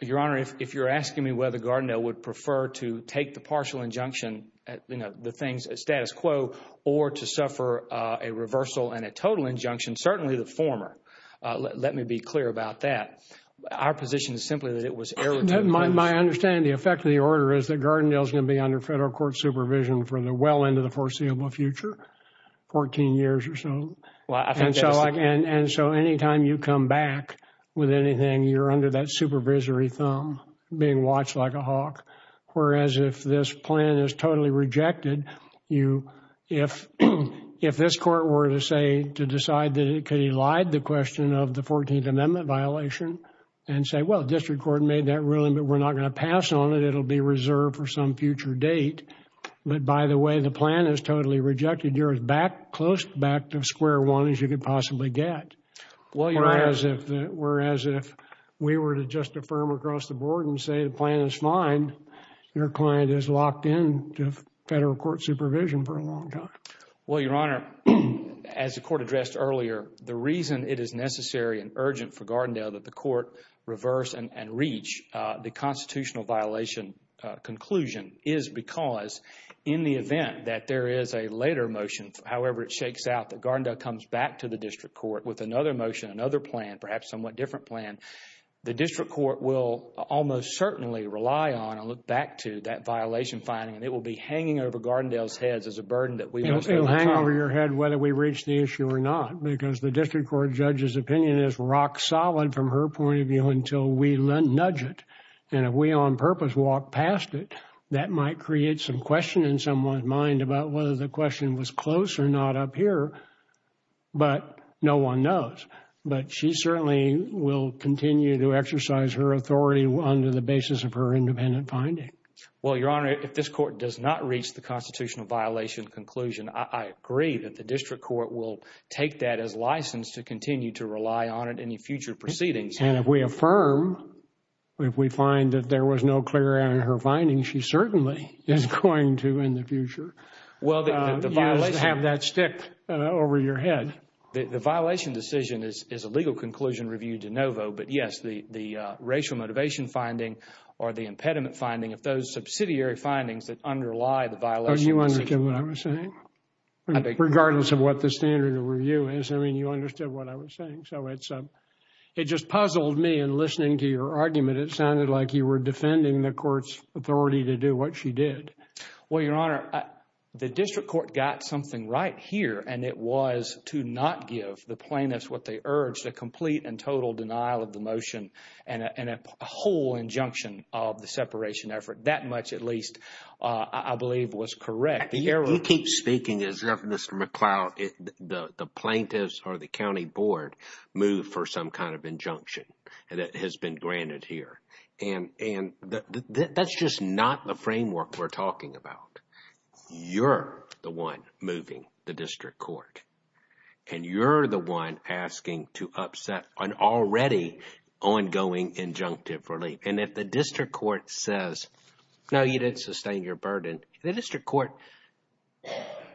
Your Honor, if you're asking me whether Gardendale would prefer to take the partial injunction, you know, the things, status quo, or to suffer a reversal and a total injunction, certainly the former. Let me be clear about that. Our position is simply that it was error to the rules. My understanding, the effect of the order is that Gardendale is going to be under federal court supervision for the well into the foreseeable future, 14 years or so. And so anytime you come back with anything, you're under that supervisory thumb being watched like a hawk. Whereas if this plan is totally rejected, if this court were to say, to decide that it could elide the question of the 14th Amendment violation and say, well, the district court made that ruling, but we're not going to pass on it, it'll be reserved for some future date. But by the way, the plan is totally rejected. You're as back, close back to square one as you could possibly get. Whereas if we were to just affirm across the board and say the plan is fine, your client is locked in to federal court supervision for a long time. Well, Your Honor, as the court addressed earlier, the reason it is necessary and urgent for Gardendale that the court reverse and reach the constitutional violation conclusion is because in the event that there is a later motion, however, it shakes out, that Gardendale comes back to the district court with another motion, another plan, perhaps somewhat different plan, the district court will almost certainly rely on and look back to that violation finding, and it will be hanging over Gardendale's heads as a burden that we... It will hang over your head whether we reach the issue or not, because the district court judge's opinion is rock solid from her point of view until we nudge it. And if we on purpose walk past it, that might create some question in someone's mind about whether the question was close or not up here, but no one knows. But she certainly will continue to exercise her authority under the basis of her independent finding. Well, Your Honor, if this court does not reach the constitutional violation conclusion, I agree that the district court will take that as license to continue to rely on it in future proceedings. And if we affirm, if we find that there was no clear in her findings, she certainly is going to in the future. Well, you have that stick over your head. The violation decision is a legal conclusion reviewed de novo. But yes, the racial motivation finding or the impediment finding of those subsidiary findings that underlie the violation. You understand what I'm saying? Regardless of what the standard of review is, I mean, you understood what I was saying. So it's it just puzzled me in listening to your argument. It sounded like you were defending the court's authority to do what she did. Well, Your Honor, the district court got something right here, and it was to not give the plaintiffs what they urged, a complete and total denial of the motion and a whole injunction of the separation effort. That much, at least, I believe was correct. You keep speaking as if Mr. McCloud, the plaintiffs or the county board, moved for some kind of injunction and it has been granted here. And that's just not the framework we're talking about. You're the one moving the district court, and you're the one asking to upset an already ongoing injunctive relief. And if the district court says, no, you didn't sustain your burden, the district court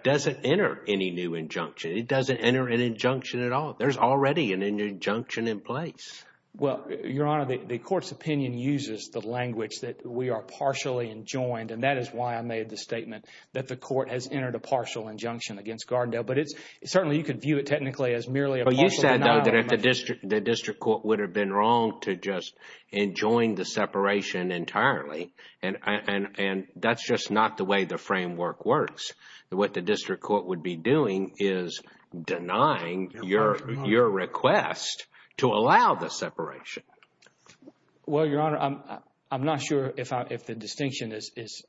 doesn't enter any new injunction. It doesn't enter an injunction at all. There's already an injunction in place. Well, Your Honor, the court's opinion uses the language that we are partially enjoined. And that is why I made the statement that the court has entered a partial injunction against Gardendale. But it's certainly you could view it technically as merely a partial denial. But you said, though, that the district court would have been wrong to just enjoin the separation entirely. And that's just not the way the framework works. What the district court would be doing is denying your request to allow the separation. Well, Your Honor, I'm not sure if the distinction is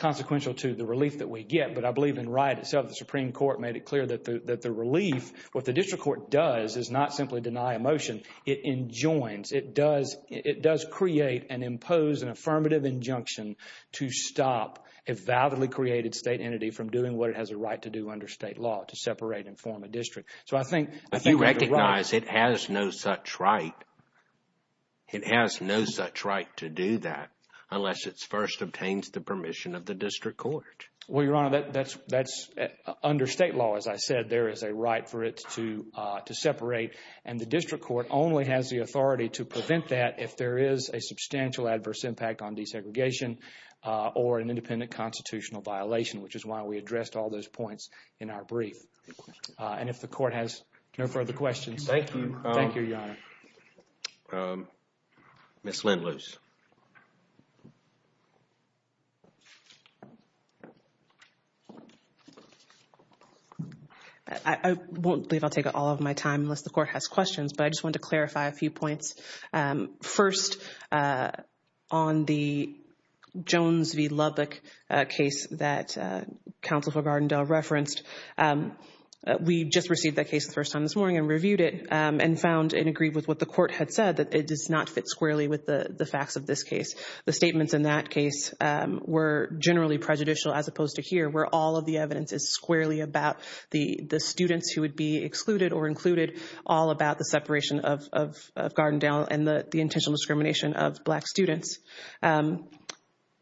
consequential to the relief that we get. But I believe in Wright itself, the Supreme Court made it clear that the relief what the district court does is not simply deny a motion. It enjoins. It does create and impose an affirmative injunction to stop a validly created state entity from doing what it has a right to do under state law, to separate and form a district. So I think if you recognize it has no such right. It has no such right to do that unless it first obtains the permission of the district court. Well, Your Honor, that's that's under state law. As I said, there is a right for it to to separate. And the district court only has the authority to prevent that if there is a substantial adverse impact on desegregation or an independent constitutional violation, which is why we addressed all those points in our brief. And if the court has no further questions. Thank you. Thank you, Your Honor. Ms. Lindloos. I won't believe I'll take all of my time unless the court has questions, but I just want to clarify a few points. First, on the Jones v. Lubbock case that Counsel for Gardendale referenced, we just received that case the first time this morning and reviewed it and found and agreed with what the court had said, that it does not fit squarely with the facts of this case. The statements in that case were generally prejudicial as opposed to here, where all of the evidence is squarely about the students who would be excluded or included all about the separation of Gardendale and the intentional discrimination of black students.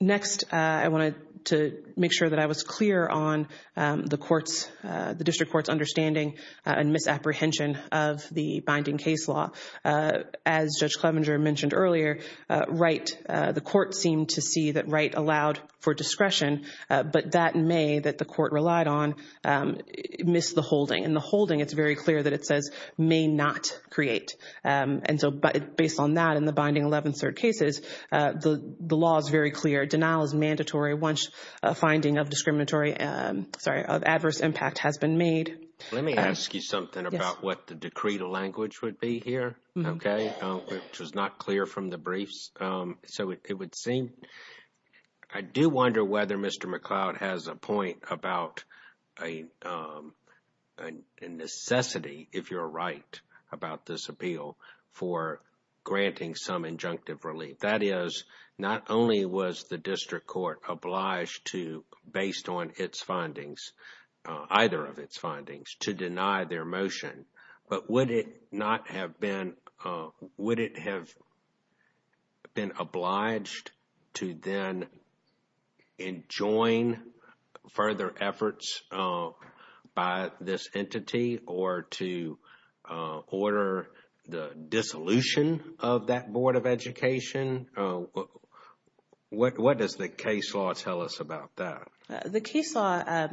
Next, I wanted to make sure that I was clear on the courts, the district court's understanding and misapprehension of the binding case law. As Judge Clevenger mentioned earlier, Wright, the court seemed to see that Wright allowed for discretion, but that may, that the court relied on, miss the holding. In the holding, it's very clear that it says may not create. And so based on that in the binding 11th third cases, the law is very clear. Denial is mandatory once a finding of discriminatory, sorry, of adverse impact has been made. Let me ask you something about what the decree to language would be here. OK, which was not clear from the briefs. So it would seem. I do wonder whether Mr. McLeod has a point about a necessity, if you're right about this appeal for granting some injunctive relief. That is not only was the district court obliged to based on its findings, either of its findings to deny their motion. But would it not have been, would it have been obliged to then enjoin further efforts by this entity or to order the dissolution of that Board of Education? Oh, what does the case law tell us about that? The case law,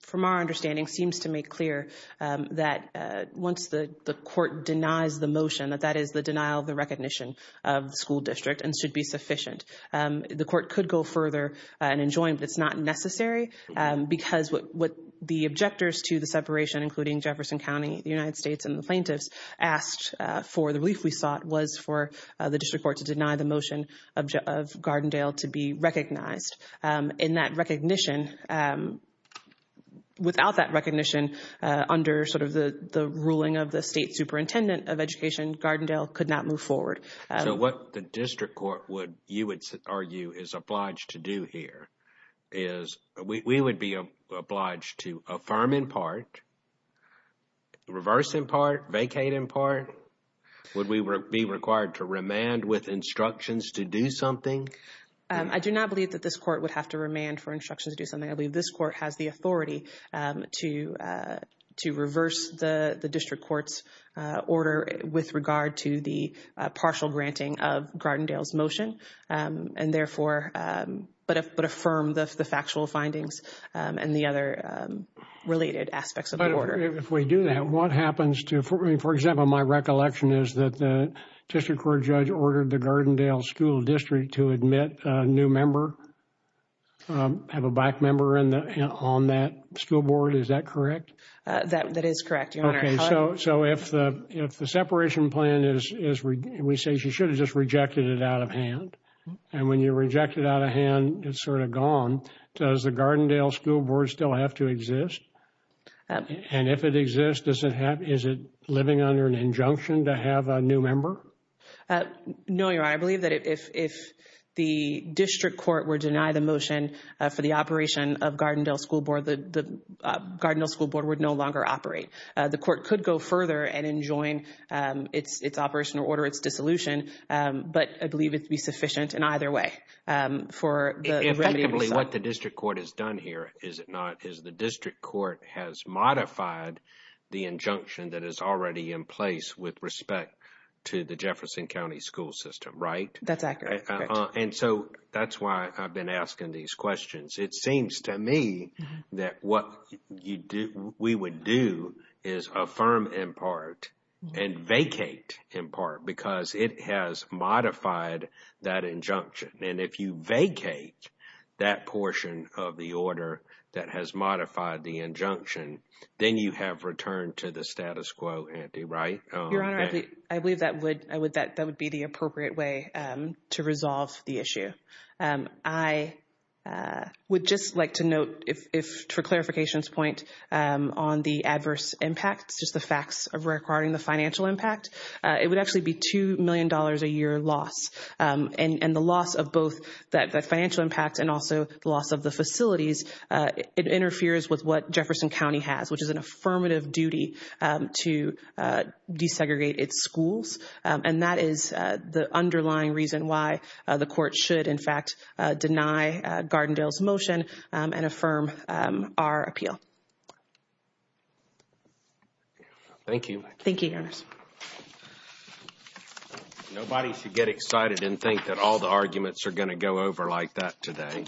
from our understanding, seems to make clear that once the court denies the motion that that is the denial of the recognition of the school district and should be sufficient. The court could go further and enjoin, but it's not necessary because what the objectors to the separation, including Jefferson County, the United States and the plaintiffs asked for the relief we sought was for the district court to deny the motion of Gardendale to be recognized. In that recognition, without that recognition under sort of the ruling of the state superintendent of education, Gardendale could not move forward. So what the district court would, you would argue, is obliged to do here is we would be obliged to affirm in part, reverse in part, vacate in part. Would we be required to remand with instructions to do something? I do not believe that this court would have to remand for instructions to do something. I believe this court has the authority to reverse the district court's order with regard to the partial granting of Gardendale's motion. And therefore, but affirm the factual findings and the other related aspects of the order. If we do that, what happens to, for example, my recollection is that the district court judge ordered the Gardendale school district to admit a new member, have a black member on that school board. Is that correct? That is correct. So if the separation plan is, we say she should have just rejected it out of hand. And when you reject it out of hand, it's sort of gone. Does the Gardendale school board still have to exist? And if it exists, does it have, is it living under an injunction to have a new member? No, Your Honor, I believe that if the district court were to deny the motion for the operation of Gardendale school board, the Gardendale school board would no longer operate. The court could go further and enjoin its operation or order its dissolution. But I believe it'd be sufficient in either way for the remedy. What the district court has done here, is it not, is the district court has modified the injunction that is already in place with respect to the Jefferson County school system, right? That's accurate. And so that's why I've been asking these questions. It seems to me that what you do, we would do is affirm in part and vacate in part because it has modified that injunction. And if you vacate that portion of the order that has modified the injunction, then you have returned to the status quo, Andy, right? Your Honor, I believe that would, I would, that would be the appropriate way to resolve the issue. I would just like to note if for clarification's point on the adverse impacts, just the facts of requiring the financial impact, it would actually be $2 million a year loss. And the loss of both that financial impact and also the loss of the facilities, it interferes with what Jefferson County has, which is an affirmative duty to desegregate its schools. And that is the underlying reason why the court should, in fact, deny Gardendale's motion and affirm our appeal. Thank you. Thank you, Your Honor. Nobody should get excited and think that all the arguments are going to go over like that today.